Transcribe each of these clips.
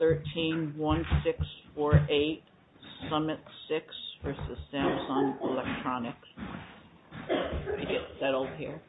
13-1648 Summit 6 v. Samsung Electronics. Let me get settled here.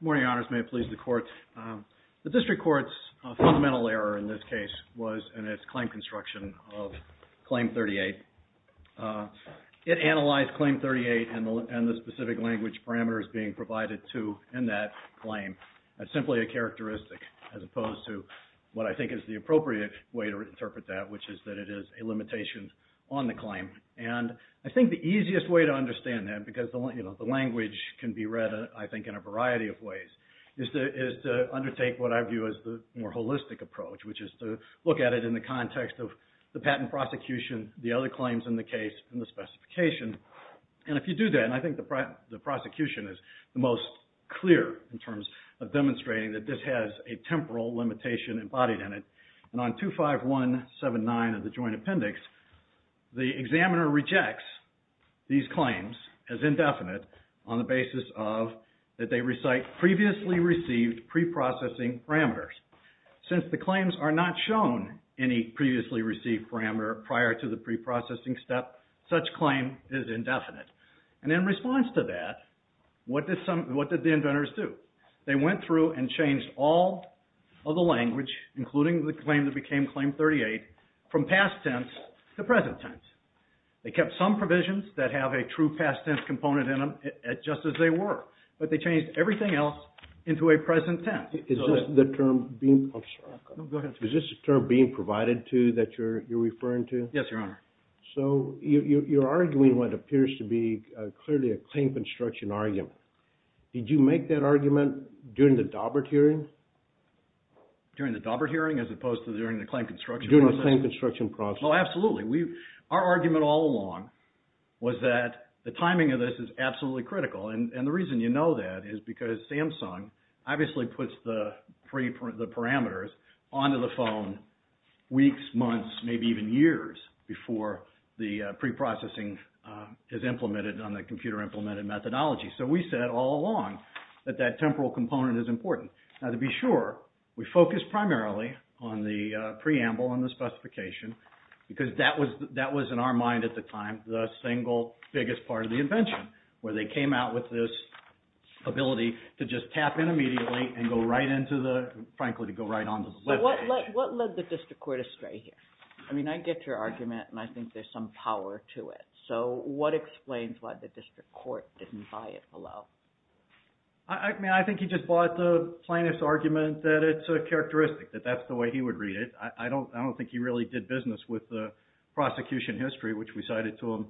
Good morning, may it please the court. The district court's fundamental error in this case was in its claim construction of Claim 38. It analyzed Claim 38 and the specific language parameters being provided to in that claim as simply a characteristic as opposed to what I think is the appropriate way to interpret that, which is that it is a limitation on the claim. And I think the easiest way to understand that, because the language can be read I think in a variety of ways, is to undertake what I view as the more holistic approach, which is to look at it in the context of the patent prosecution, the other claims in the case, and the specification. And if you do that, and I think the prosecution is the most clear in terms of demonstrating that this has a temporal limitation embodied in it, and on 25179 of the Joint Appendix, the examiner rejects these claims as indefinite on the basis of that they recite previously received preprocessing parameters. Since the claims are not shown any previously received parameter prior to the preprocessing step, such claim is indefinite. And in response to that, what did the inventors do? They went through and changed all of the language, including the claim that became Claim 38, from past tense to present tense. They kept some provisions that have a true past tense component in them just as they were, but they changed everything else into a present tense. Is this the term being... I'm sorry. No, go ahead. Is this the term being provided to that you're referring to? Yes, Your Honor. So, you're arguing what appears to be clearly a claim construction argument. Did you make that argument during the Daubert hearing? During the Daubert hearing as opposed to during the claim construction process? During the claim construction process. Oh, absolutely. Our argument all along was that the timing of this is absolutely critical, and the reason you know that is because Samsung obviously puts the parameters onto the phone weeks, months, maybe even years before the preprocessing is implemented on the computer-implemented methodology. So, we said all along that that temporal component is important. Now, to be sure, we focused primarily on the preamble and the specification because that was, in our mind at the time, the single biggest part of the invention, where they came out with this ability to just tap in immediately and go right into the, frankly, to go right onto the litigation. But what led the district court astray here? I mean, I get your argument, and I think there's some power to it. So, what explains why the district court didn't buy it below? I mean, I think he just bought the plaintiff's argument that it's a characteristic, that that's the way he would read it. I don't think he really did business with the prosecution history, which we cited to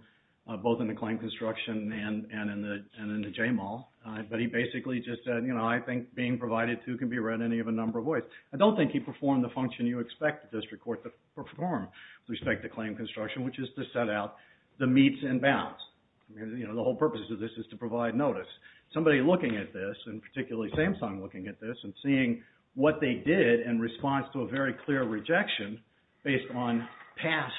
both in the claim construction and in the J-Mall, but he basically just said, you know, I think being provided two can be read in any of a number of ways. I don't think he performed the function you expect the district court to perform with respect to claim construction, which is to set out the meets and bounds. You know, the whole purpose of this is to provide notice. Somebody looking at this, and particularly Samsung looking at this, and seeing what they did in response to a very clear rejection based on past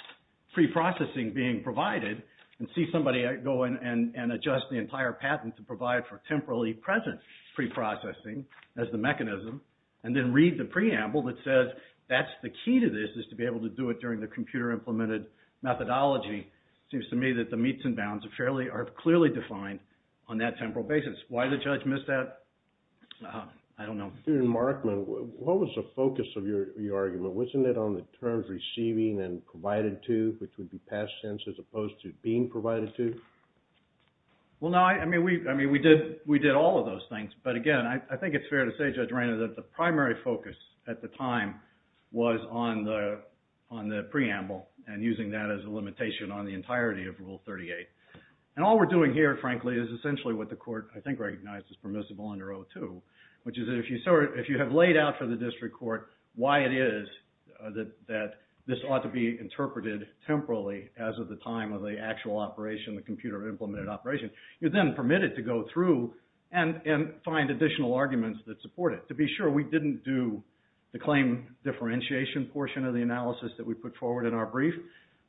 preprocessing being provided, and see somebody go in and adjust the entire patent to provide for temporally present preprocessing as the mechanism, and then read the preamble that says that's the key to this, is to be able to do it during the computer-implemented methodology, seems to me that the meets and bounds are clearly defined on that temporal basis. Why the judge missed that, I don't know. Mr. Markman, what was the focus of your argument? Wasn't it on the terms receiving and provided to, which would be past tense as opposed to being provided to? Well, no. I mean, we did all of those things, but again, I think it's fair to say, Judge Rainer, that the primary focus at the time was on the preamble, and using that as a limitation on the entirety of Rule 38. And all we're doing here, frankly, is essentially what the court, I think, recognized as permissible under O2, which is if you have laid out for the district court why it is that this ought to be interpreted temporally as of the time of the actual operation, the computer-implemented operation, you're then permitted to go through and find additional arguments that support it. To be sure, we didn't do the claim differentiation portion of the analysis that we put forward in our brief,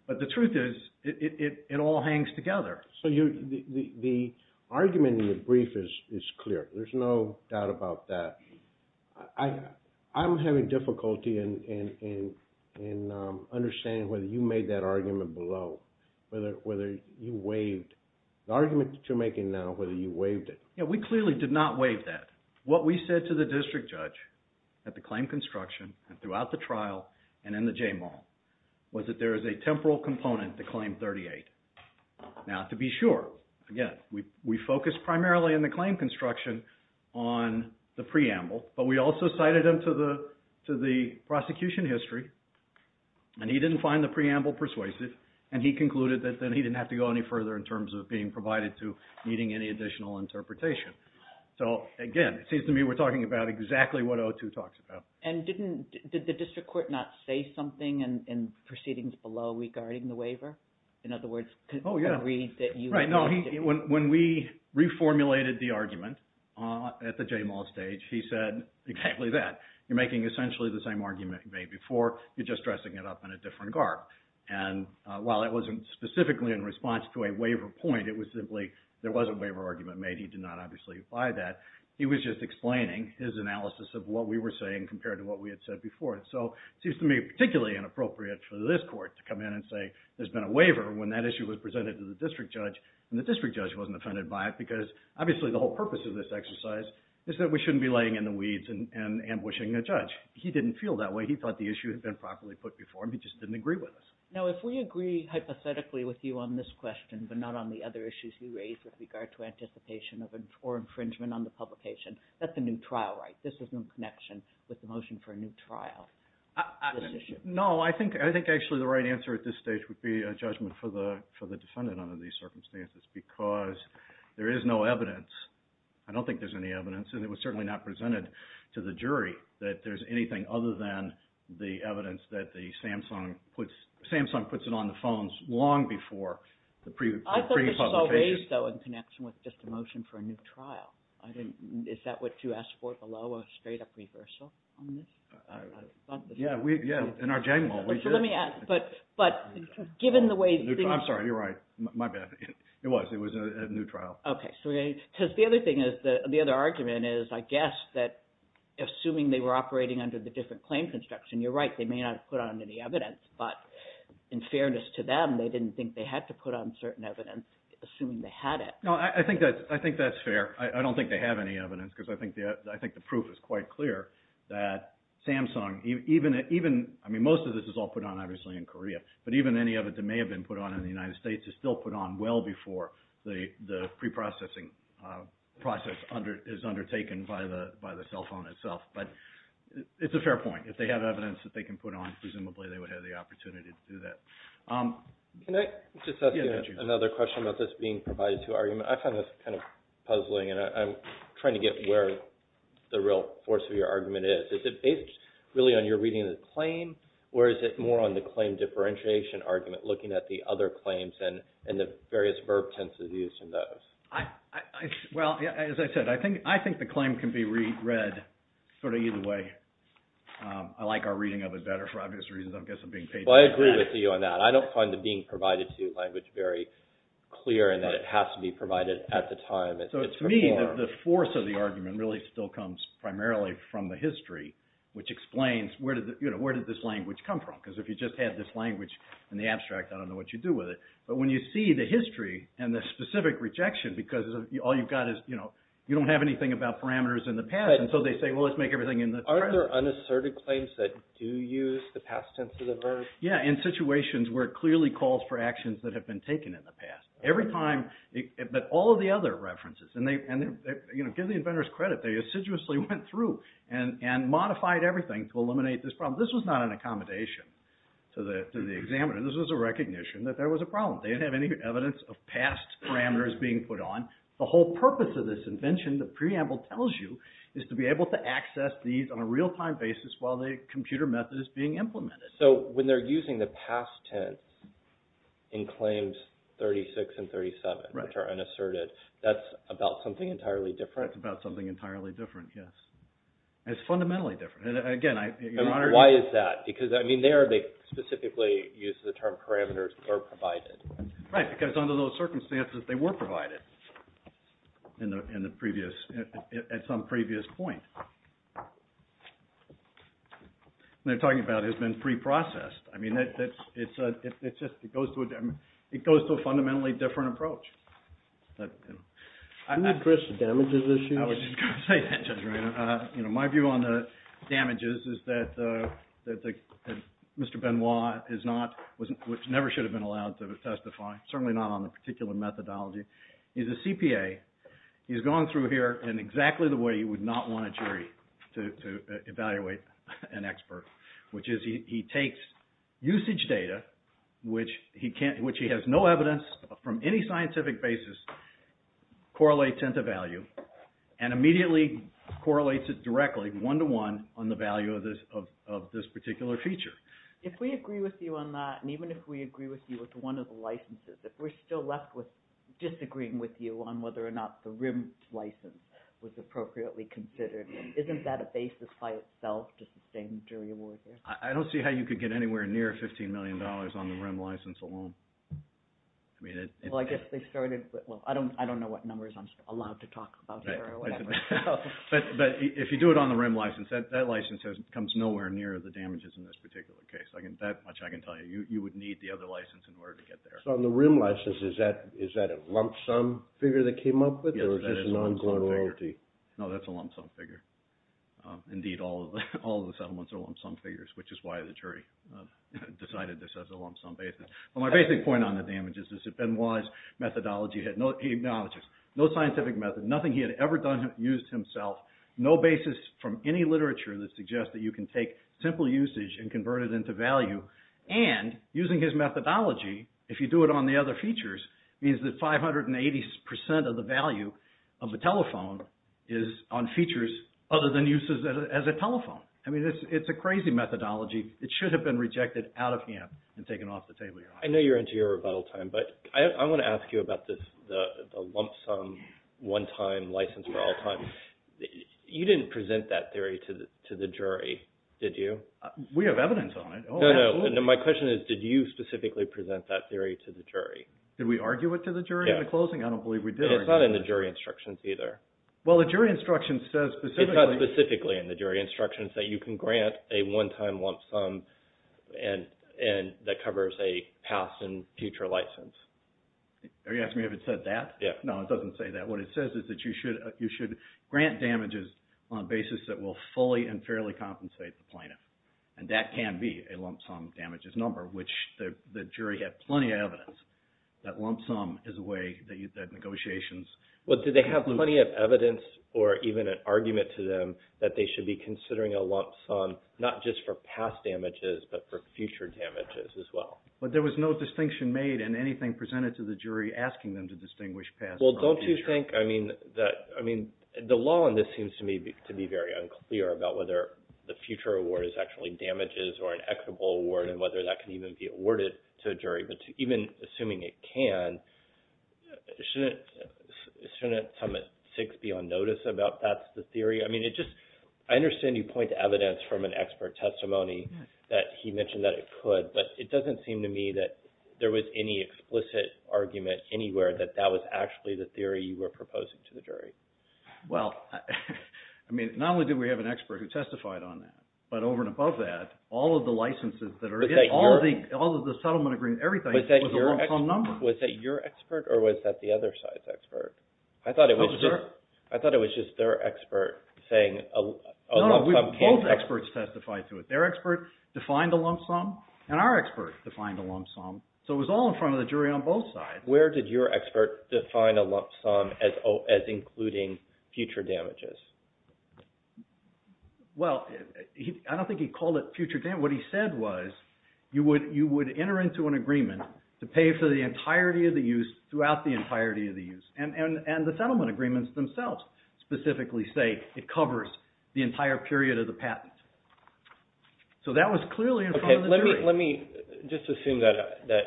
but the truth is, it all hangs together. So the argument in your brief is clear. There's no doubt about that. I'm having difficulty in understanding whether you made that argument below, whether you waived the argument that you're making now, whether you waived it. We clearly did not waive that. What we said to the district judge at the claim construction and throughout the trial and in the J-Mall was that there is a temporal component to Claim 38. Now, to be sure, again, we focused primarily in the claim construction on the preamble, but we also cited him to the prosecution history and he didn't find the preamble persuasive and he concluded that then he didn't have to go any further in terms of being provided to meeting any additional interpretation. So again, it seems to me we're talking about exactly what O2 talks about. And didn't, did the district court not say something in proceedings below regarding the waiver? In other words, could we agree that you... Right. No. When we reformulated the argument at the J-Mall stage, he said exactly that, you're making essentially the same argument you made before, you're just dressing it up in a different garb. And while it wasn't specifically in response to a waiver point, it was simply there was a waiver argument made. He did not obviously apply that. He was just explaining his analysis of what we were saying compared to what we had said before. So it seems to me particularly inappropriate for this court to come in and say there's been a waiver when that issue was presented to the district judge and the district judge wasn't offended by it because obviously the whole purpose of this exercise is that we shouldn't be laying in the weeds and ambushing a judge. He didn't feel that way. He thought the issue had been properly put before him. He just didn't agree with us. Now, if we agree hypothetically with you on this question, but not on the other issues you raised with regard to anticipation or infringement on the publication, that's a new trial, right? This is in connection with the motion for a new trial, this issue. No, I think actually the right answer at this stage would be a judgment for the defendant under these circumstances because there is no evidence. I don't think there's any evidence and it was certainly not presented to the jury that there's anything other than the evidence that Samsung puts it on the phones long before the pre-publication. I thought this was all raised though in connection with just the motion for a new trial. Is that what you asked for below, a straight-up reversal on this? Yeah. In our general, we did. Let me ask, but given the way things... I'm sorry. You're right. My bad. It was. It was a new trial. Okay. Because the other thing is, the other argument is, I guess, that assuming they were operating under the different claim construction, you're right, they may not have put on any evidence, but in fairness to them, they didn't think they had to put on certain evidence, assuming they had it. No. I think that's fair. I don't think they have any evidence because I think the proof is quite clear that Samsung, even... I mean, most of this is all put on, obviously, in Korea, but even any of it that may have been put on in the United States is still put on well before the pre-processing process is undertaken by the cell phone itself, but it's a fair point. If they have evidence that they can put on, presumably, they would have the opportunity to do that. Can I just ask you another question about this being provided to argument? I find this kind of puzzling, and I'm trying to get where the real force of your argument is. Is it based, really, on your reading of the claim, or is it more on the claim differentiation argument, looking at the other claims and the various verb tenses used in those? Well, as I said, I think the claim can be read sort of either way. I like our reading of it better, for obvious reasons. I guess I'm being patronized. Well, I agree with you on that. I don't find the being provided to language very clear in that it has to be provided at the time it's performed. So, to me, the force of the argument really still comes primarily from the history, which explains, where did this language come from? Because if you just had this language in the abstract, I don't know what you'd do with it. But when you see the history and the specific rejection, because all you've got is, you know, you don't have anything about parameters in the past, and so they say, well, let's make everything in the present. Are there unasserted claims that do use the past tense of the verb? Yeah, in situations where it clearly calls for actions that have been taken in the past. Every time, but all of the other references, and give the inventors credit, they assiduously went through and modified everything to eliminate this problem. This was not an accommodation to the examiner. This was a recognition that there was a problem. They didn't have any evidence of past parameters being put on. The whole purpose of this invention, the preamble tells you, is to be able to access these on a real-time basis while the computer method is being implemented. So when they're using the past tense in claims 36 and 37, which are unasserted, that's about something entirely different. It's about something entirely different, yes. It's fundamentally different. And again, I... And why is that? Because, I mean, there they specifically use the term parameters that are provided. Right, because under those circumstances, they were provided at some previous point. What they're talking about has been pre-processed. I mean, it's just, it goes to a fundamentally different approach. Isn't that Chris's damages issue? I was just going to say that, Judge Reynolds. My view on the damages is that Mr. Benoit is not, never should have been allowed to testify, certainly not on the particular methodology. He's a CPA. He's gone through here in exactly the way you would not want a jury to evaluate an expert, which is he takes usage data, which he has no evidence from any scientific basis, correlates into value, and immediately correlates it directly, one-to-one, on the value of this particular feature. If we agree with you on that, and even if we agree with you with one of the licenses, if we're still left with disagreeing with you on whether or not the RIM license was appropriately considered, isn't that a basis by itself to sustain jury award there? I don't see how you could get anywhere near $15 million on the RIM license alone. Well, I guess they started with, well, I don't know what numbers I'm allowed to talk about here or whatever. But if you do it on the RIM license, that license comes nowhere near the damages in this particular case. That much I can tell you. You would need the other license in order to get there. So on the RIM license, is that a lump sum figure they came up with? Yes, that is a lump sum figure. Or is this an ongoing royalty? No, that's a lump sum figure. Indeed, all of the settlements are lump sum figures, which is why the jury decided this as a lump sum basis. Well, my basic point on the damages is that Benoit's methodology had no technologist, no scientific method, nothing he had ever used himself, no basis from any literature that suggests that you can take simple usage and convert it into value. And using his methodology, if you do it on the other features, means that 580% of the value of a telephone is on features other than uses as a telephone. I mean, it's a crazy methodology. It should have been rejected out of hand and taken off the table. I know you're into your rebuttal time, but I want to ask you about the lump sum one-time license for all time. You didn't present that theory to the jury, did you? We have evidence on it. No, no. My question is, did you specifically present that theory to the jury? Did we argue it to the jury in the closing? I don't believe we did. It's not in the jury instructions either. Well, the jury instructions says specifically. It's not specifically in the jury instructions that you can grant a one-time lump sum that covers a past and future license. Are you asking me if it said that? Yeah. No, it doesn't say that. What it says is that you should grant damages on a basis that will fully and fairly compensate the plaintiff. And that can be a lump sum damages number, which the jury had plenty of evidence that lump sum is a way that negotiations… Well, did they have plenty of evidence or even an argument to them that they should be considering a lump sum not just for past damages, but for future damages as well? But there was no distinction made in anything presented to the jury asking them to distinguish past from future. Well, don't you think – I mean, the law in this seems to me to be very unclear about whether the future award is actually damages or an equitable award and whether that can even be awarded to a jury. But even assuming it can, shouldn't sum at six be on notice about that's the theory? I mean, it just – I understand you point to evidence from an expert testimony that he mentioned that it could, but it doesn't seem to me that there was any explicit argument anywhere that that was actually the theory you were proposing to the jury. Well, I mean, not only do we have an expert who testified on that, but over and above that, all of the licenses that are – all of the settlement agreements, everything was a lump sum number. Was that your expert or was that the other side's expert? I thought it was just their expert saying a lump sum can't… Both experts testified to it. Their expert defined a lump sum and our expert defined a lump sum. So it was all in front of the jury on both sides. Where did your expert define a lump sum as including future damages? Well, I don't think he called it future damages. What he said was you would enter into an agreement to pay for the entirety of the use throughout the entirety of the use. And the settlement agreements themselves specifically say it covers the entire period of the patent. So that was clearly in front of the jury. Let me just assume that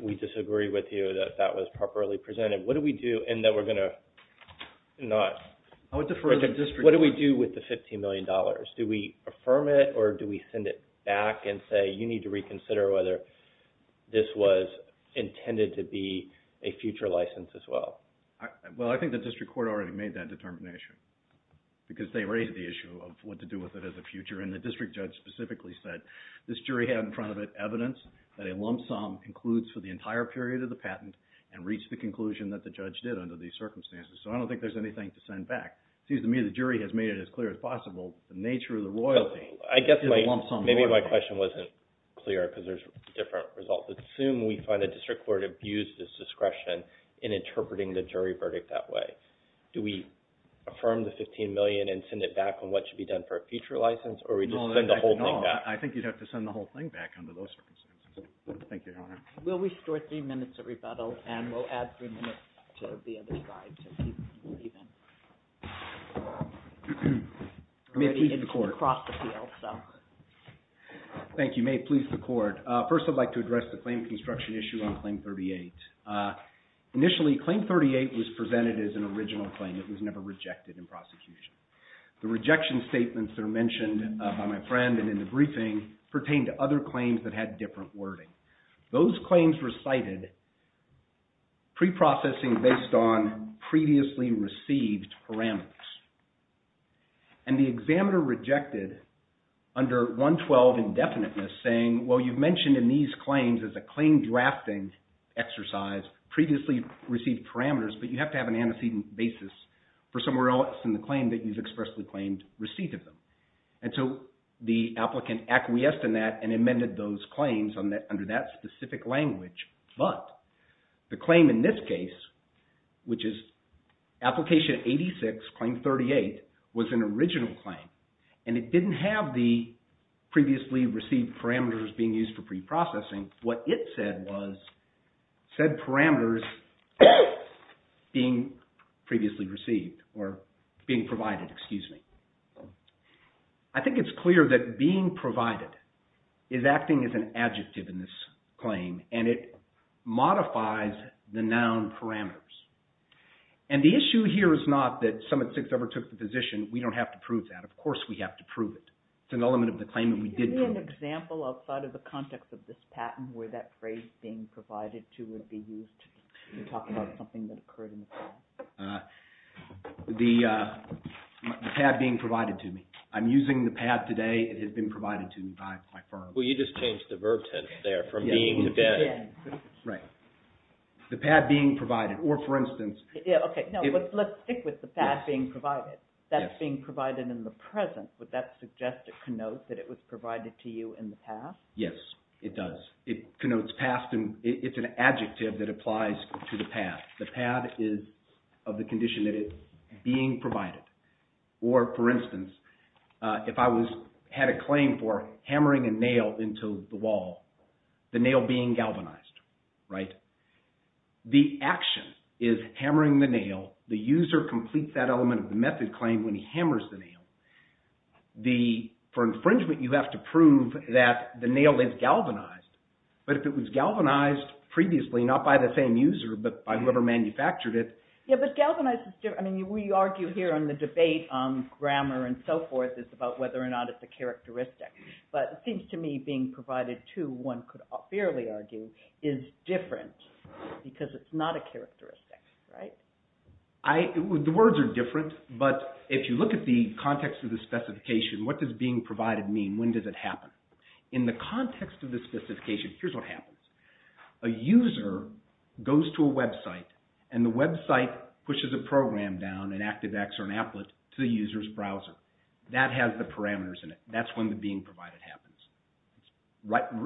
we disagree with you, that that was properly presented. What do we do and that we're going to not… I would defer to the district attorney. What do we do with the $15 million? Do we affirm it or do we send it back and say, you need to reconsider whether this was intended to be a future license as well? Well, I think the district court already made that determination because they raised the issue of what to do with it as a future. And the district judge specifically said this jury had in front of it evidence that a lump sum includes for the entire period of the patent and reached the conclusion that the judge did under these circumstances. So I don't think there's anything to send back. It seems to me the jury has made it as clear as possible. The nature of the royalty is a lump sum royalty. I guess maybe my question wasn't clear because there's different results. Assume we find the district court abused its discretion in interpreting the jury verdict that way. Do we affirm the $15 million and send it back on what should be done for a future license or we just send the whole thing back? No, I think you'd have to send the whole thing back under those circumstances. Thank you, Your Honor. We'll restore three minutes of rebuttal and we'll add three minutes to the other side. May it please the court. Thank you. May it please the court. First, I'd like to address the claim construction issue on Claim 38. Initially, Claim 38 was presented as an original claim. It was never rejected in prosecution. It pertained to other claims that had different wording. Those claims were cited pre-processing based on previously received parameters. And the examiner rejected under 112 indefiniteness saying, well, you've mentioned in these claims as a claim drafting exercise, previously received parameters, but you have to have an antecedent basis for somewhere else in the claim that you've expressly claimed receipt of them. And so the applicant acquiesced in that and amended those claims under that specific language. But the claim in this case, which is Application 86, Claim 38, was an original claim and it didn't have the previously received parameters being used for pre-processing. What it said was said parameters being previously received or being provided. I think it's clear that being provided is acting as an adjective in this claim and it modifies the noun parameters. And the issue here is not that Summit 6 overtook the position. We don't have to prove that. Of course we have to prove it. It's an element of the claim that we did prove. Can you give me an example outside of the context of this patent where that phrase being provided to would be used to talk about something that occurred in the claim? The pad being provided to me. I'm using the pad today. It has been provided to me by my firm. Well, you just changed the verb tense there from being to being. Right. The pad being provided. Or for instance... Okay, let's stick with the pad being provided. That's being provided in the present. Would that suggest it connotes that it was provided to you in the past? Yes, it does. It connotes past and it's an adjective that applies to the pad. The pad is of the condition that it's being provided. Or for instance, if I had a claim for hammering a nail into the wall, the nail being galvanized, right? The action is hammering the nail. The user completes that element of the method claim when he hammers the nail. For infringement, you have to prove that the nail is galvanized. But if it was galvanized previously, not by the same user, but by whoever manufactured it... Yeah, but galvanized is different. I mean, we argue here in the debate on grammar and so forth is about whether or not it's a characteristic. But it seems to me being provided to, one could fairly argue, is different because it's not a characteristic, right? The words are different, but if you look at the context of the specification, what does being provided mean? When does it happen? In the context of the specification, here's what happens. A user goes to a website, and the website pushes a program down, an ActiveX or an Applet, to the user's browser. That has the parameters in it. That's when the being provided happens.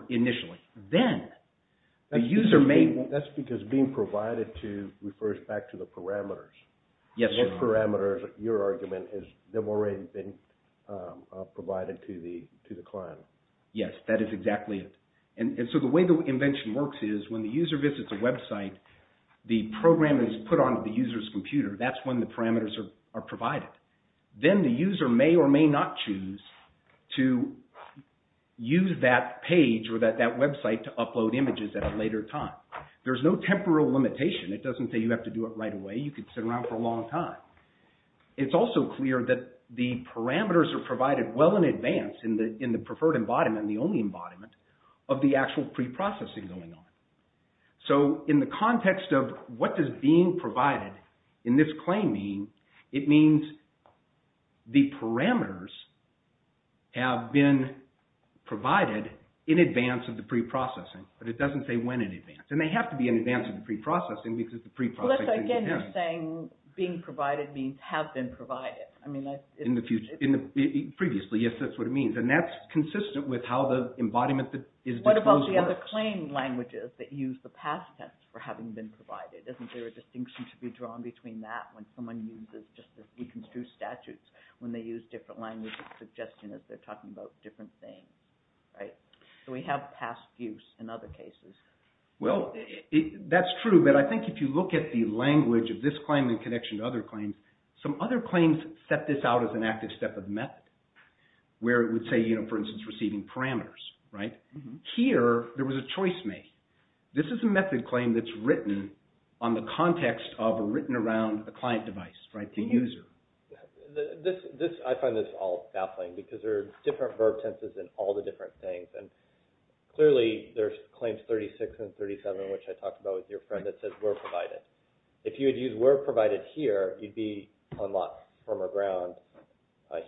Initially. Then, the user may... That's because being provided to refers back to the parameters. Yes, sir. Those parameters, your argument, have already been provided to the client. Yes, that is exactly it. And so the way the invention works is when the user visits a website, the program is put onto the user's computer. That's when the parameters are provided. Then the user may or may not choose to use that page or that website to upload images at a later time. There's no temporal limitation. It doesn't say you have to do it right away. You could sit around for a long time. It's also clear that the parameters are provided well in advance in the preferred embodiment, the only embodiment, of the actual preprocessing going on. So in the context of what does being provided in this claim mean, it means the parameters have been provided in advance of the preprocessing. But it doesn't say when in advance. Then they have to be in advance of the preprocessing because the preprocessing begins. Again, you're saying being provided means have been provided. In the future. Previously, yes, that's what it means. And that's consistent with how the embodiment is disposed of. What about the other claim languages that use the past tense for having been provided? Isn't there a distinction to be drawn between that when someone uses just the deconstructed statutes when they use different languages suggesting that they're talking about different things? Do we have past use in other cases? Well, that's true. But I think if you look at the language of this claim in connection to other claims, some other claims set this out as an active step of method where it would say, for instance, receiving parameters. Here, there was a choice made. This is a method claim that's written on the context of or written around a client device, the user. I find this all baffling because there are different verb tenses in all the different things. And clearly, there's claims 36 and 37, which I talked about with your friend that says were provided. If you would use were provided here, you'd be on lot firmer ground.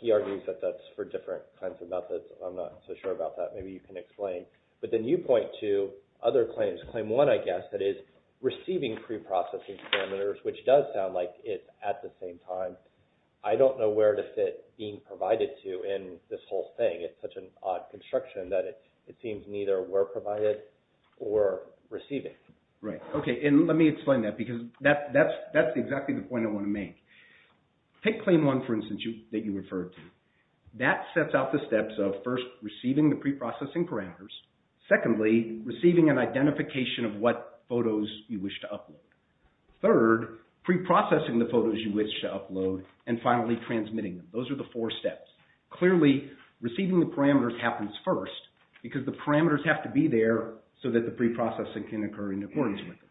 He argues that that's for different kinds of methods. I'm not so sure about that. Maybe you can explain. But then you point to other claims. Claim one, I guess, that is receiving preprocessing parameters, which does sound like it's at the same time. I don't know where to fit being provided to in this whole thing. It's such an odd construction that it seems neither were provided or receiving. Right. Okay. And let me explain that because that's exactly the point I want to make. Take claim one, for instance, that you referred to. That sets out the steps of, first, receiving the preprocessing parameters, secondly, receiving an identification of what photos you wish to upload, third, preprocessing the photos you wish to upload, and finally, transmitting them. Those are the four steps. Clearly, receiving the parameters happens first because the parameters have to be there so that the preprocessing can occur in accordance with them.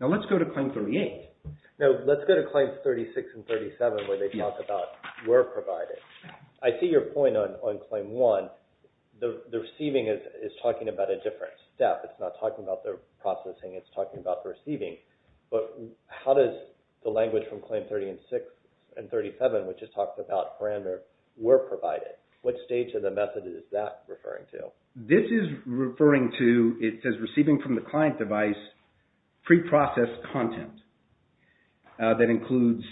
Now, let's go to claim 38. Now, let's go to claims 36 and 37 where they talk about were provided. I see your point on claim one. The receiving is talking about a different step. It's not talking about the processing. It's talking about the receiving. But how does the language from claim 36 and 37, which is talking about parameters, were provided? What stage of the method is that referring to? This is referring to, it says, receiving from the client device preprocessed content. That includes,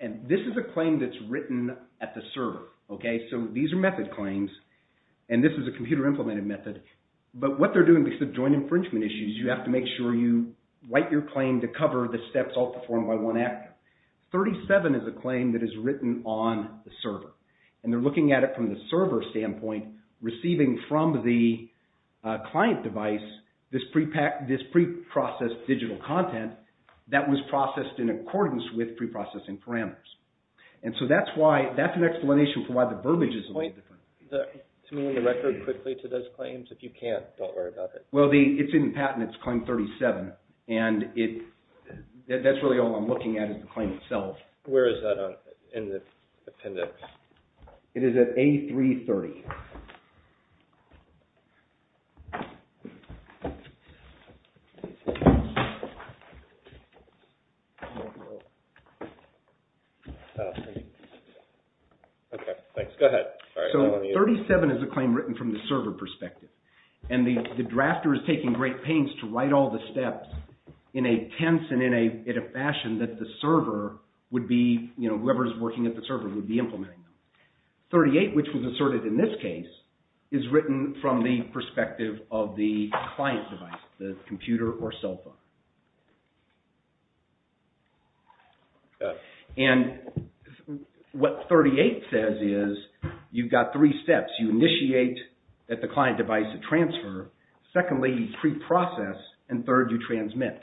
and this is a claim that's written at the server. So these are method claims, and this is a computer-implemented method. But what they're doing because of joint infringement issues, you have to make sure you write your claim to cover the steps all performed by one actor. 37 is a claim that is written on the server, and they're looking at it from the server standpoint, receiving from the client device this preprocessed digital content that was processed in accordance with preprocessing parameters. And so that's why, that's an explanation for why the verbiage is a little different. Can you point the record quickly to those claims? If you can't, don't worry about it. Well, it's in the patent, it's claim 37. And that's really all I'm looking at is the claim itself. Where is that in the appendix? It is at A330. Okay, thanks. Go ahead. So 37 is a claim written from the server perspective. And the drafter is taking great pains to write all the steps in a tense and in a fashion that the server would be, you know, whoever is working at the server would be implementing them. 38, which was asserted in this case, is written from the perspective of the client device, the computer or cell phone. And what 38 says is, you've got three steps. You initiate that the client device to transfer. Secondly, preprocess. And third, you transmit.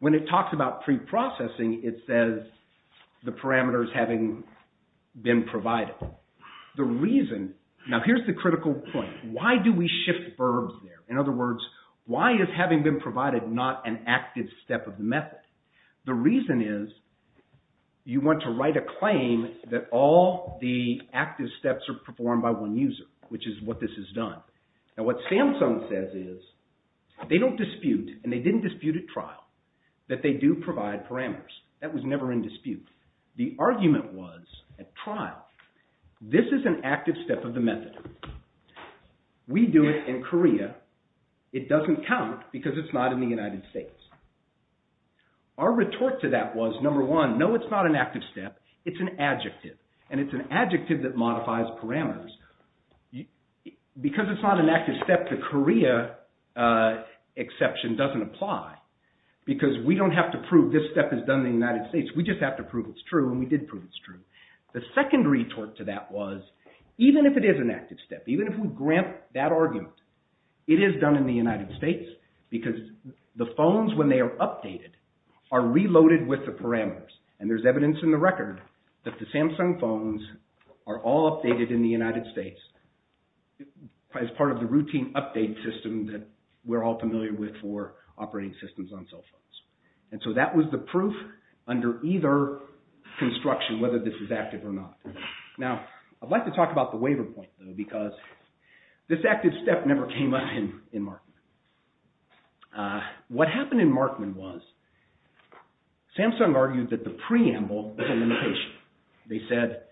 When it talks about preprocessing, it says the parameters having been provided. The reason, now here's the critical point. Why do we shift verbs there? In other words, why is having been provided not an active step of the method? The reason is, you want to write a claim that all the active steps are performed by one user, which is what this has done. Now what Samsung says is, they don't dispute, and they didn't dispute at trial, that they do provide parameters. That was never in dispute. The argument was, at trial, this is an active step of the method. We do it in Korea. It doesn't count because it's not in the United States. Our retort to that was, number one, no, it's not an active step. It's an adjective, and it's an adjective that modifies parameters. Because it's not an active step, the Korea exception doesn't apply because we don't have to prove this step is done in the United States. We just have to prove it's true, and we did prove it's true. The second retort to that was, even if it is an active step, even if we grant that argument, it is done in the United States are reloaded with the parameters. And there's evidence in the record that the Samsung phones are all updated in the United States as part of the routine update system that we're all familiar with for operating systems on cell phones. And so that was the proof under either construction, whether this is active or not. Now, I'd like to talk about the waiver point, though, because this active step never came up in Markman. What happened in Markman was, Samsung argued that the preamble was a limitation. They said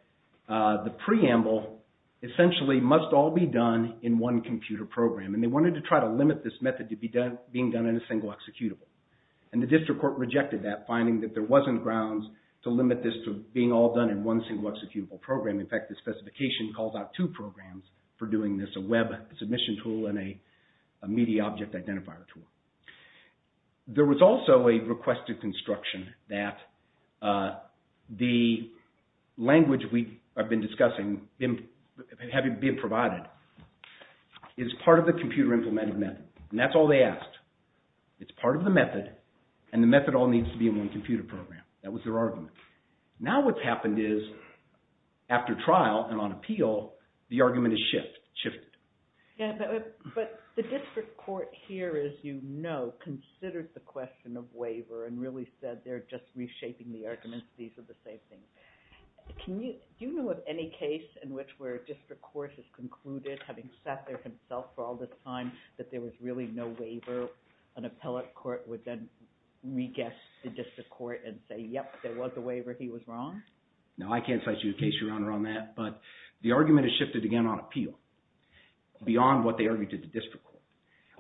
the preamble, essentially, must all be done in one computer program, and they wanted to try to limit this method to being done in a single executable. And the district court rejected that, finding that there wasn't grounds to limit this to being all done in one single executable program. In fact, the specification calls out two programs for doing this, a web submission tool and a media object identifier tool. There was also a request to construction that the language we have been discussing, having been provided, is part of the computer implemented method. And that's all they asked. It's part of the method, and the method all needs to be in one computer program. That was their argument. Now what's happened is, after trial and on appeal, the argument has shifted. But the district court here, as you know, considered the question of waiver and really said they're just reshaping the arguments. These are the same things. Do you know of any case in which where a district court has concluded, having sat there himself for all this time, that there was really no waiver? An appellate court would then re-guess the district court and say, yep, there was a waiver. He was wrong? No, I can't cite you a case, Your Honor, on that. But the argument has shifted again on appeal. Beyond what they argued at the district court.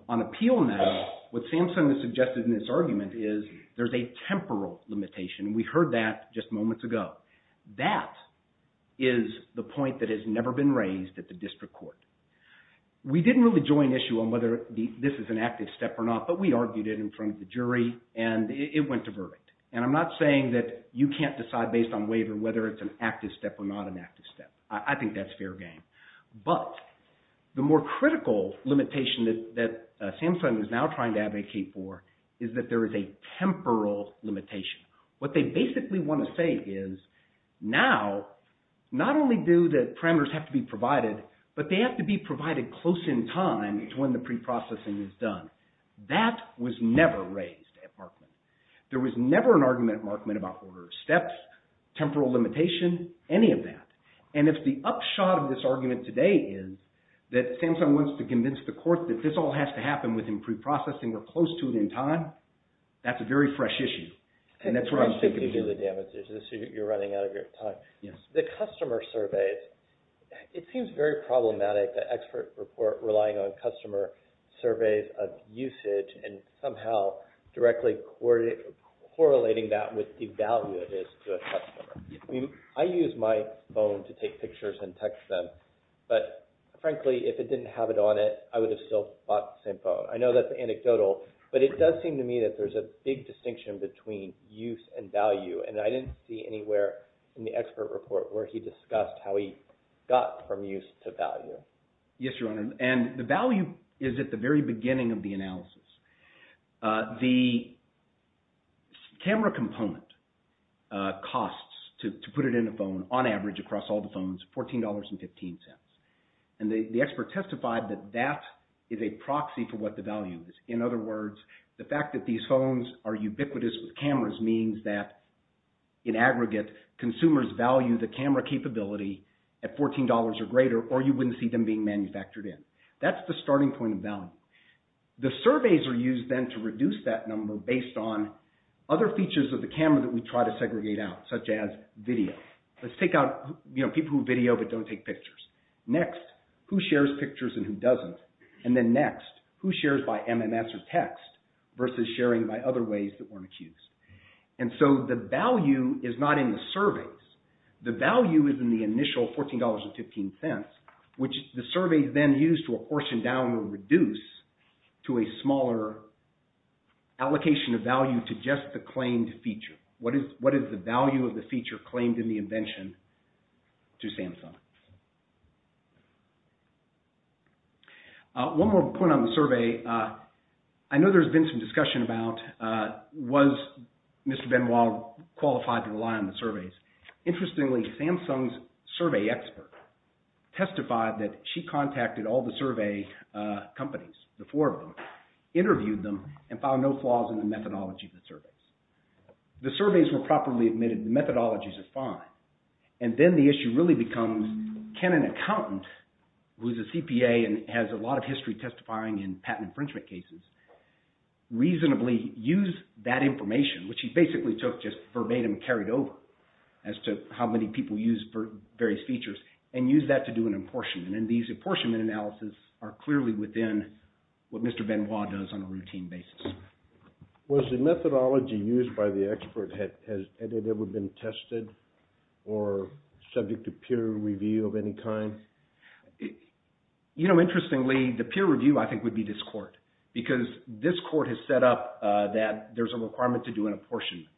On appeal now, what Samson has suggested in this argument is, there's a temporal limitation. We heard that just moments ago. That is the point that has never been raised at the district court. We didn't really join issue on whether this is an active step or not, but we argued it in front of the jury, and it went to verdict. And I'm not saying that you can't decide based on waiver whether it's an active step or not an active step. I think that's fair game. But the more critical limitation that Samson is now trying to advocate for is that there is a temporal limitation. What they basically want to say is, now, not only do the parameters have to be provided, but they have to be provided close in time to when the pre-processing is done. That was never raised at Markman. There was never an argument at Markman about order of steps, temporal limitation, any of that. And if the upshot of this argument today is that Samson wants to convince the court that this all has to happen within pre-processing or close to it in time, that's a very fresh issue. And that's what I'm thinking of. You're running out of your time. The customer surveys, it seems very problematic, the expert report relying on customer surveys of usage and somehow directly correlating that with the value it is to a customer. I use my phone to take pictures and text them, but frankly, if it didn't have it on it, I would have still bought the same phone. I know that's anecdotal, but it does seem to me that there's a big distinction between use and value, and I didn't see anywhere in the expert report where he discussed how he got from use to value. Yes, Your Honor, and the value is at the very beginning of the analysis. The camera component costs, to put it in a phone, on average across all the phones, $14.15. And the expert testified that that is a proxy for what the value is. In other words, the fact that these phones are ubiquitous with cameras means that in aggregate, consumers value the camera capability at $14 or greater, or you wouldn't see them being manufactured in. That's the starting point of value. The surveys are used then to reduce that number based on other features of the camera that we try to segregate out, such as video. Let's take out people who video but don't take pictures. Next, who shares pictures and who doesn't? And then next, who shares by MMS or text versus sharing by other ways that weren't accused? And so the value is not in the surveys. The value is in the initial $14.15, which the survey then used to apportion down or reduce to a smaller allocation of value to just the claimed feature. What is the value of the feature claimed in the invention to Samsung? One more point on the survey. I know there's been some discussion about was Mr. Benoit qualified to rely on the surveys. Interestingly, Samsung's survey expert testified that she contacted all the survey companies, the four of them, interviewed them, and found no flaws in the methodology of the surveys. The surveys were properly admitted. The methodologies are fine. And then the issue really becomes, can an accountant, who's a CPA and has a lot of history testifying in patent infringement cases, reasonably use that information, which he basically took just verbatim and carried over as to how many people used various features, and use that to do an apportionment. And these apportionment analyses are clearly within what Mr. Benoit does on a routine basis. Was the methodology used by the expert, has it ever been tested or subject to peer review of any kind? You know, interestingly, the peer review, I think, would be this court because this court has set up that there's a requirement to do an apportionment.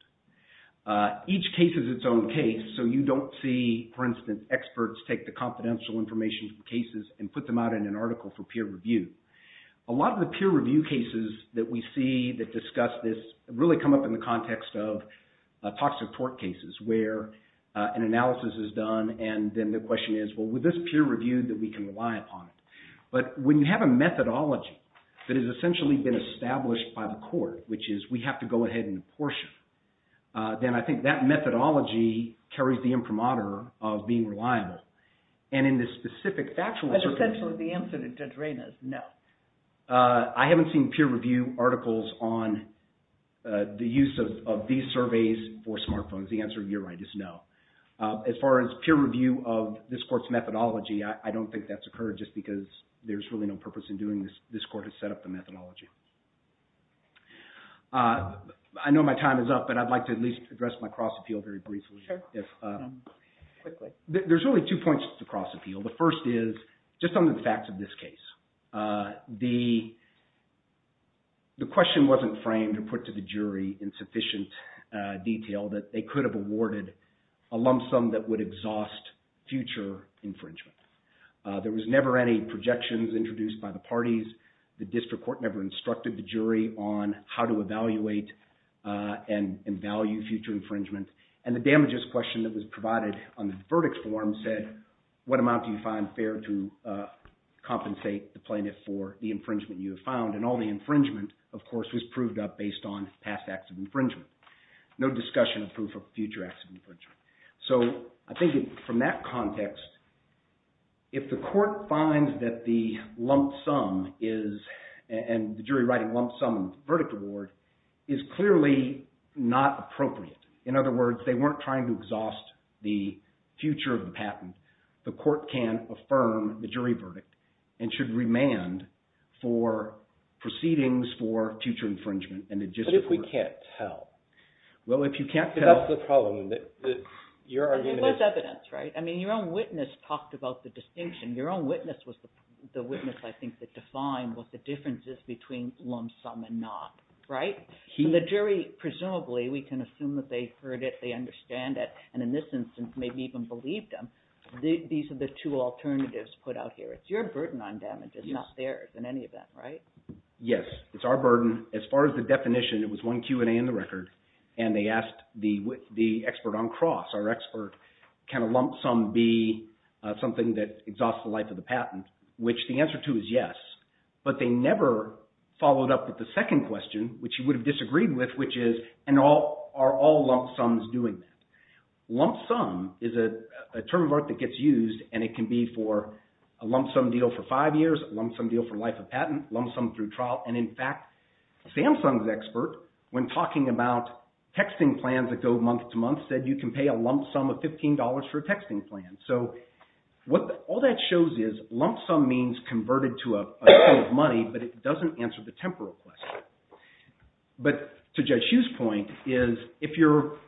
Each case is its own case, so you don't see, for instance, experts take the confidential information from cases and put them out in an article for peer review. A lot of the peer review cases that we see that discuss this really come up in the context of toxic tort cases where an analysis is done and then the question is, well, with this peer review, that we can rely upon it. But when you have a methodology that has essentially been established by the court, which is we have to go ahead and apportion, then I think that methodology carries the imprimatur of being reliable. And in the specific factual circumstances... But essentially the answer to Drayne is no. I haven't seen peer review articles on the use of these surveys for smartphones. The answer, you're right, is no. As far as peer review of this court's methodology, I don't think that's occurred just because there's really no purpose in doing this. This court has set up the methodology. I know my time is up, but I'd like to at least address my cross-appeal very briefly. There's really two points to cross-appeal. The first is just some of the facts of this case. The question wasn't framed or put to the jury in sufficient detail that they could have awarded a lump sum that would exhaust future infringement. There was never any projections introduced by the parties. The district court never instructed the jury on how to evaluate and value future infringement. And the damages question that was provided on the verdict form said, what amount do you find fair to compensate the plaintiff for the infringement you have found? And all the infringement, of course, was proved up based on past acts of infringement. No discussion of proof of future acts of infringement. So I think from that context, if the court finds that the lump sum and the jury writing lump sum verdict award is clearly not appropriate, in other words, they weren't trying to exhaust the future of the patent, the court can affirm the jury verdict and should remand for proceedings for future infringement. But if we can't tell? Well, if you can't tell... That's the problem. There was evidence, right? I mean, your own witness talked about the distinction. Your own witness was the witness, I think, that defined what the difference is between lump sum and not, right? And the jury, presumably, we can assume that they heard it, they understand it, and in this instance, maybe even believed them. These are the two alternatives put out here. It's your burden on damages, not theirs in any event, right? Yes, it's our burden. As far as the definition, it was one Q&A in the record, and they asked the expert on Cross, our expert, can a lump sum be something that exhausts the life of the patent? Which the answer to is yes, but they never followed up with the second question, which you would have disagreed with, which is, are all lump sums doing that? Lump sum is a term of art that gets used, and it can be for a lump sum deal for five years, a lump sum deal for life of patent, lump sum through trial, and in fact, Samsung's expert, when talking about texting plans that go month to month, said you can pay a lump sum of $15 for a texting plan. So all that shows is, lump sum means converted to a sum of money, but it doesn't answer the temporal question. But to Judge Hughes' point is, if you're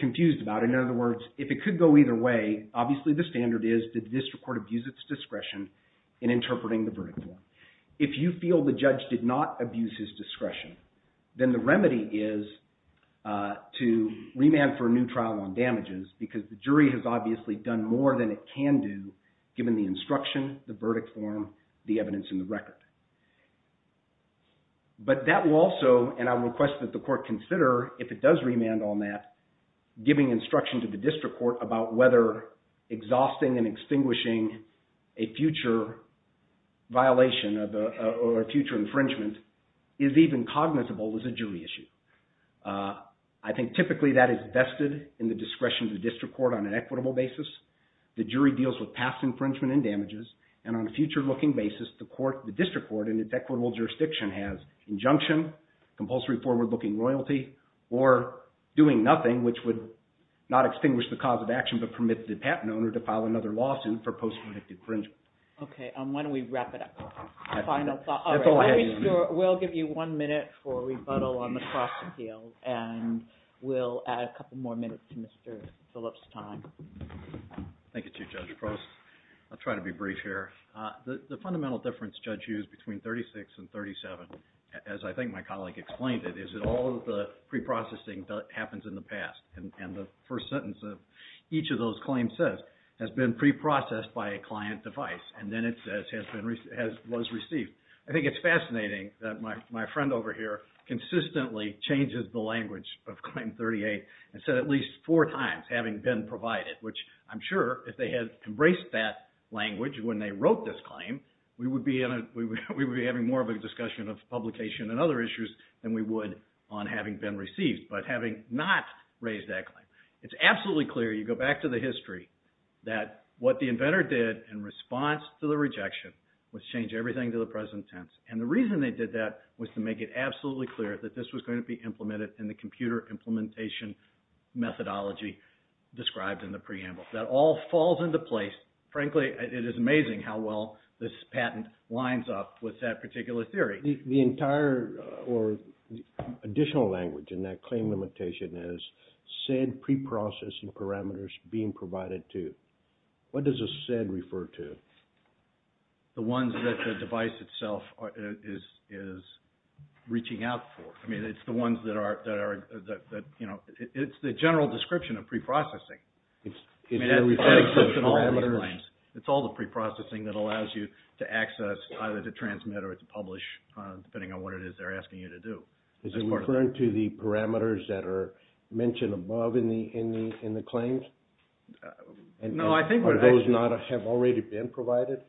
confused about it, in other words, if it could go either way, obviously the standard is, did the district court abuse its discretion in interpreting the verdict form? If you feel the judge did not abuse his discretion, then the remedy is to remand for a new trial on damages, because the jury has obviously done more than it can do, given the instruction, the verdict form, the evidence in the record. But that will also, and I would request that the court consider, if it does remand on that, giving instruction to the district court about whether exhausting and extinguishing a future violation or a future infringement is even cognizable as a jury issue. I think typically that is vested in the discretion of the district court on an equitable basis. The jury deals with past infringement and damages, and on a future-looking basis, the district court in its equitable jurisdiction has injunction, compulsory forward-looking royalty, or doing nothing, which would not extinguish the cause of action, but permit the patent owner to file another lawsuit for post-predictive infringement. Okay, why don't we wrap it up? That's all I have. We'll give you one minute for rebuttal on the cross-appeal, and we'll add a couple more minutes to Mr. Phillips' time. Thank you, Chief Judge Prost. I'll try to be brief here. The fundamental difference Judge Hughes between 36 and 37, as I think my colleague explained it, is that all of the preprocessing happens in the past, and the first sentence of each of those claims says, has been preprocessed by a client device, and then it says was received. I think it's fascinating that my friend over here consistently changes the language of Claim 38 and said at least four times, having been provided, which I'm sure if they had embraced that language when they wrote this claim, we would be having more of a discussion of publication and other issues than we would on having been received, but having not raised that claim. It's absolutely clear, you go back to the history, that what the inventor did in response to the rejection was change everything to the present tense, and the reason they did that was to make it absolutely clear that this was going to be implemented in the computer implementation methodology described in the preamble. That all falls into place. Frankly, it is amazing how well this patent lines up with that particular theory. The entire additional language in that claim limitation is said preprocessing parameters being provided to. What does a said refer to? The ones that the device itself is reaching out for. I mean, it's the ones that are, you know, it's the general description of preprocessing. It's all the preprocessing that allows you to access, either to transmit or to publish, depending on what it is they're asking you to do. Is it referring to the parameters that are mentioned above in the claims? No, I think what it actually... Or those that have already been provided?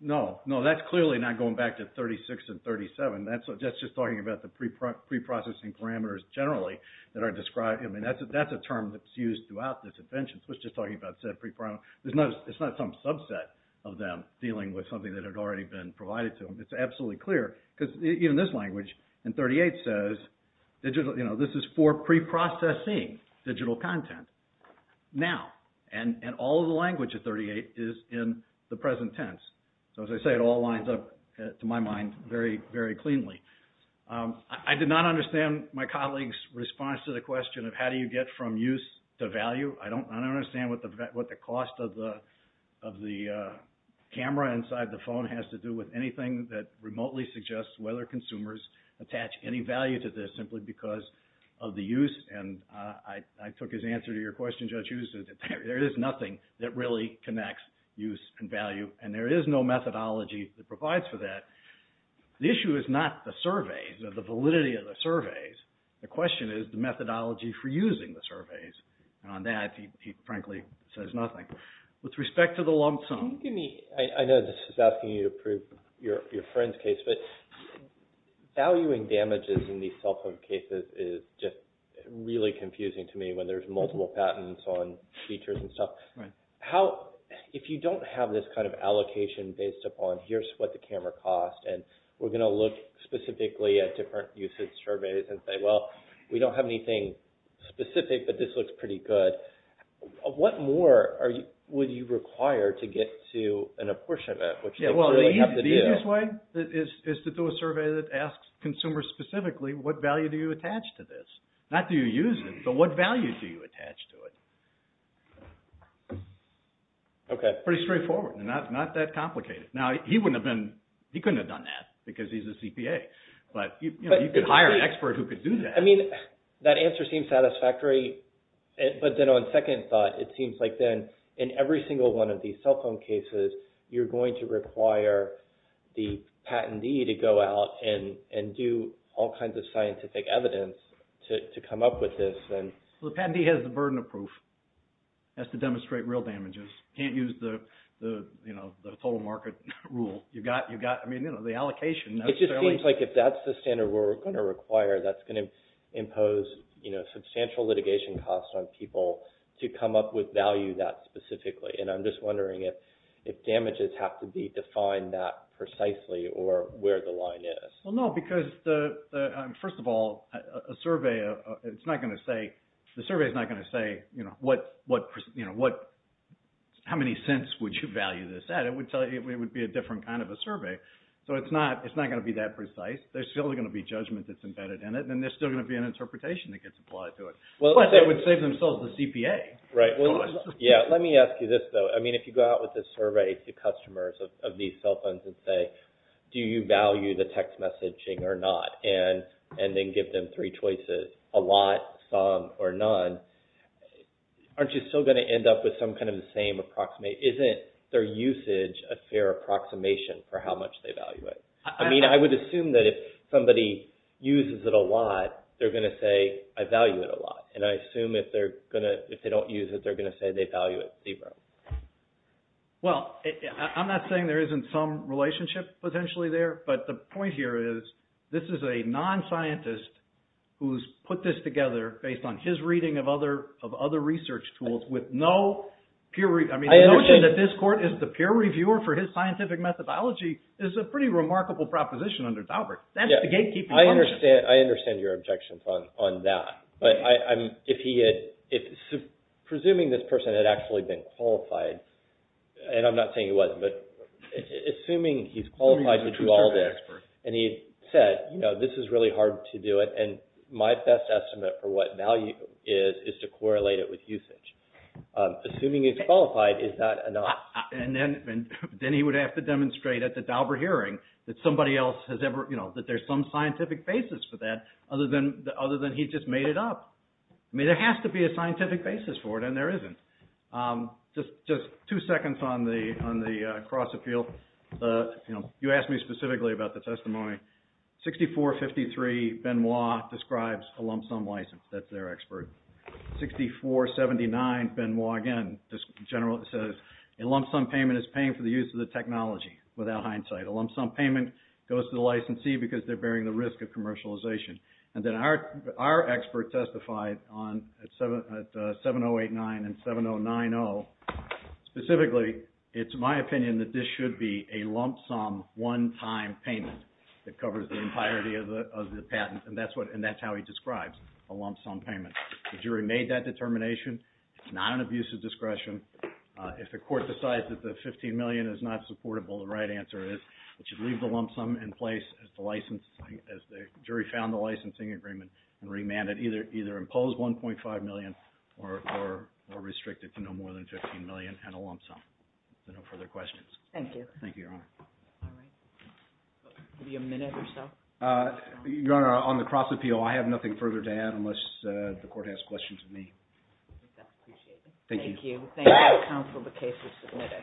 No, no, that's clearly not going back to 36 and 37. That's just talking about the preprocessing parameters generally that are described. I mean, that's a term that's used throughout this invention. So it's just talking about said preprocessing. It's not some subset of them dealing with something that had already been provided to them. It's absolutely clear, because even this language in 38 says, you know, this is for preprocessing digital content. Now, and all of the language of 38 is in the present tense. So as I say, it all lines up, to my mind, very, very cleanly. I did not understand my colleague's response to the question of how do you get from use to value. I don't understand what the cost of the camera inside the phone has to do with anything that remotely suggests whether consumers attach any value to this simply because of the use. And I took his answer to your question, Judge Huston, that there is nothing that really connects use and value, and there is no methodology that provides for that. The issue is not the surveys or the validity of the surveys. The question is the methodology for using the surveys. And on that, he frankly says nothing. With respect to the lump sum... Can you give me... I know this is asking you to prove your friend's case, but valuing damages in these cell phone cases is just really confusing to me when there's multiple patents on features and stuff. If you don't have this kind of allocation based upon here's what the camera cost, and we're going to look specifically at different usage surveys and say, well, we don't have anything specific, but this looks pretty good, what more would you require to get to an apportionment? The easiest way is to do a survey that asks consumers specifically what value do you attach to this? Not do you use it, but what value do you attach to it? Pretty straightforward and not that complicated. Now, he couldn't have done that because he's a CPA, but you could hire an expert who could do that. I mean, that answer seems satisfactory, but then on second thought, it seems like then in every single one of these cell phone cases you're going to require the patentee to go out and do all kinds of scientific evidence to come up with this. The patentee has the burden of proof. Has to demonstrate real damages. Can't use the total market rule. You've got the allocation. It just seems like if that's the standard we're going to require, that's going to impose substantial litigation costs on people to come up with value that specifically, and I'm just wondering if damages have to be defined that precisely or where the line is. Well, no, because first of all, a survey, it's not going to say, the survey is not going to say how many cents would you value this at? It would be a different kind of a survey. So it's not going to be that precise. There's still going to be judgment that's embedded in it, and there's still going to be an interpretation that gets applied to it. But it would save themselves the CPA. Yeah, let me ask you this, though. I mean, if you go out with this survey to customers of these cell phones and say, do you value the text messaging or not, and then give them three choices, a lot, some, or none, aren't you still going to end up with some kind of the same approximation? Isn't their usage a fair approximation for how much they value it? I mean, I would assume that if somebody uses it a lot, they're going to say, I value it a lot, and I assume if they don't use it, they're going to say they value it zero. Well, I'm not saying there isn't some relationship potentially there, but the point here is this is a non-scientist who's put this together based on his reading of other research tools with no peer review. I mean, the notion that this court is the peer reviewer for his scientific methodology is a pretty remarkable proposition under Daubert. That's the gatekeeping function. I understand your objections on that, but presuming this person had actually been qualified, and I'm not saying he wasn't, but assuming he's qualified to do all this, and he said, you know, this is really hard to do it, and my best estimate for what value is is to correlate it with usage. Assuming he's qualified, is that enough? And then he would have to demonstrate at the Daubert hearing that there's some scientific basis for that other than he just made it up. I mean, there has to be a scientific basis for it, and there isn't. Just two seconds on the cross-appeal. You know, you asked me specifically about the testimony. 6453, Benoit describes a lump sum license. That's their expert. 6479, Benoit again, just generally says, a lump sum payment is paying for the use of the technology without hindsight. A lump sum payment goes to the licensee because they're bearing the risk of commercialization. And then our expert testified at 7089 and 7090. Specifically, it's my opinion that this should be a lump sum, one-time payment that covers the entirety of the patent, and that's how he describes a lump sum payment. The jury made that determination. It's not an abuse of discretion. If the court decides that the $15 million is not supportable, the right answer is that you leave the lump sum in place as the jury found the licensing agreement, and remand it, either impose $1.5 million or restrict it to no more than $15 million and a lump sum. Is there no further questions? Thank you. Thank you, Your Honor. All right. Maybe a minute or so. Your Honor, on the cross-appeal, I have nothing further to add unless the court has questions of me. I think that's appreciated. Thank you. Thank you. Thank you, counsel, the case is submitted.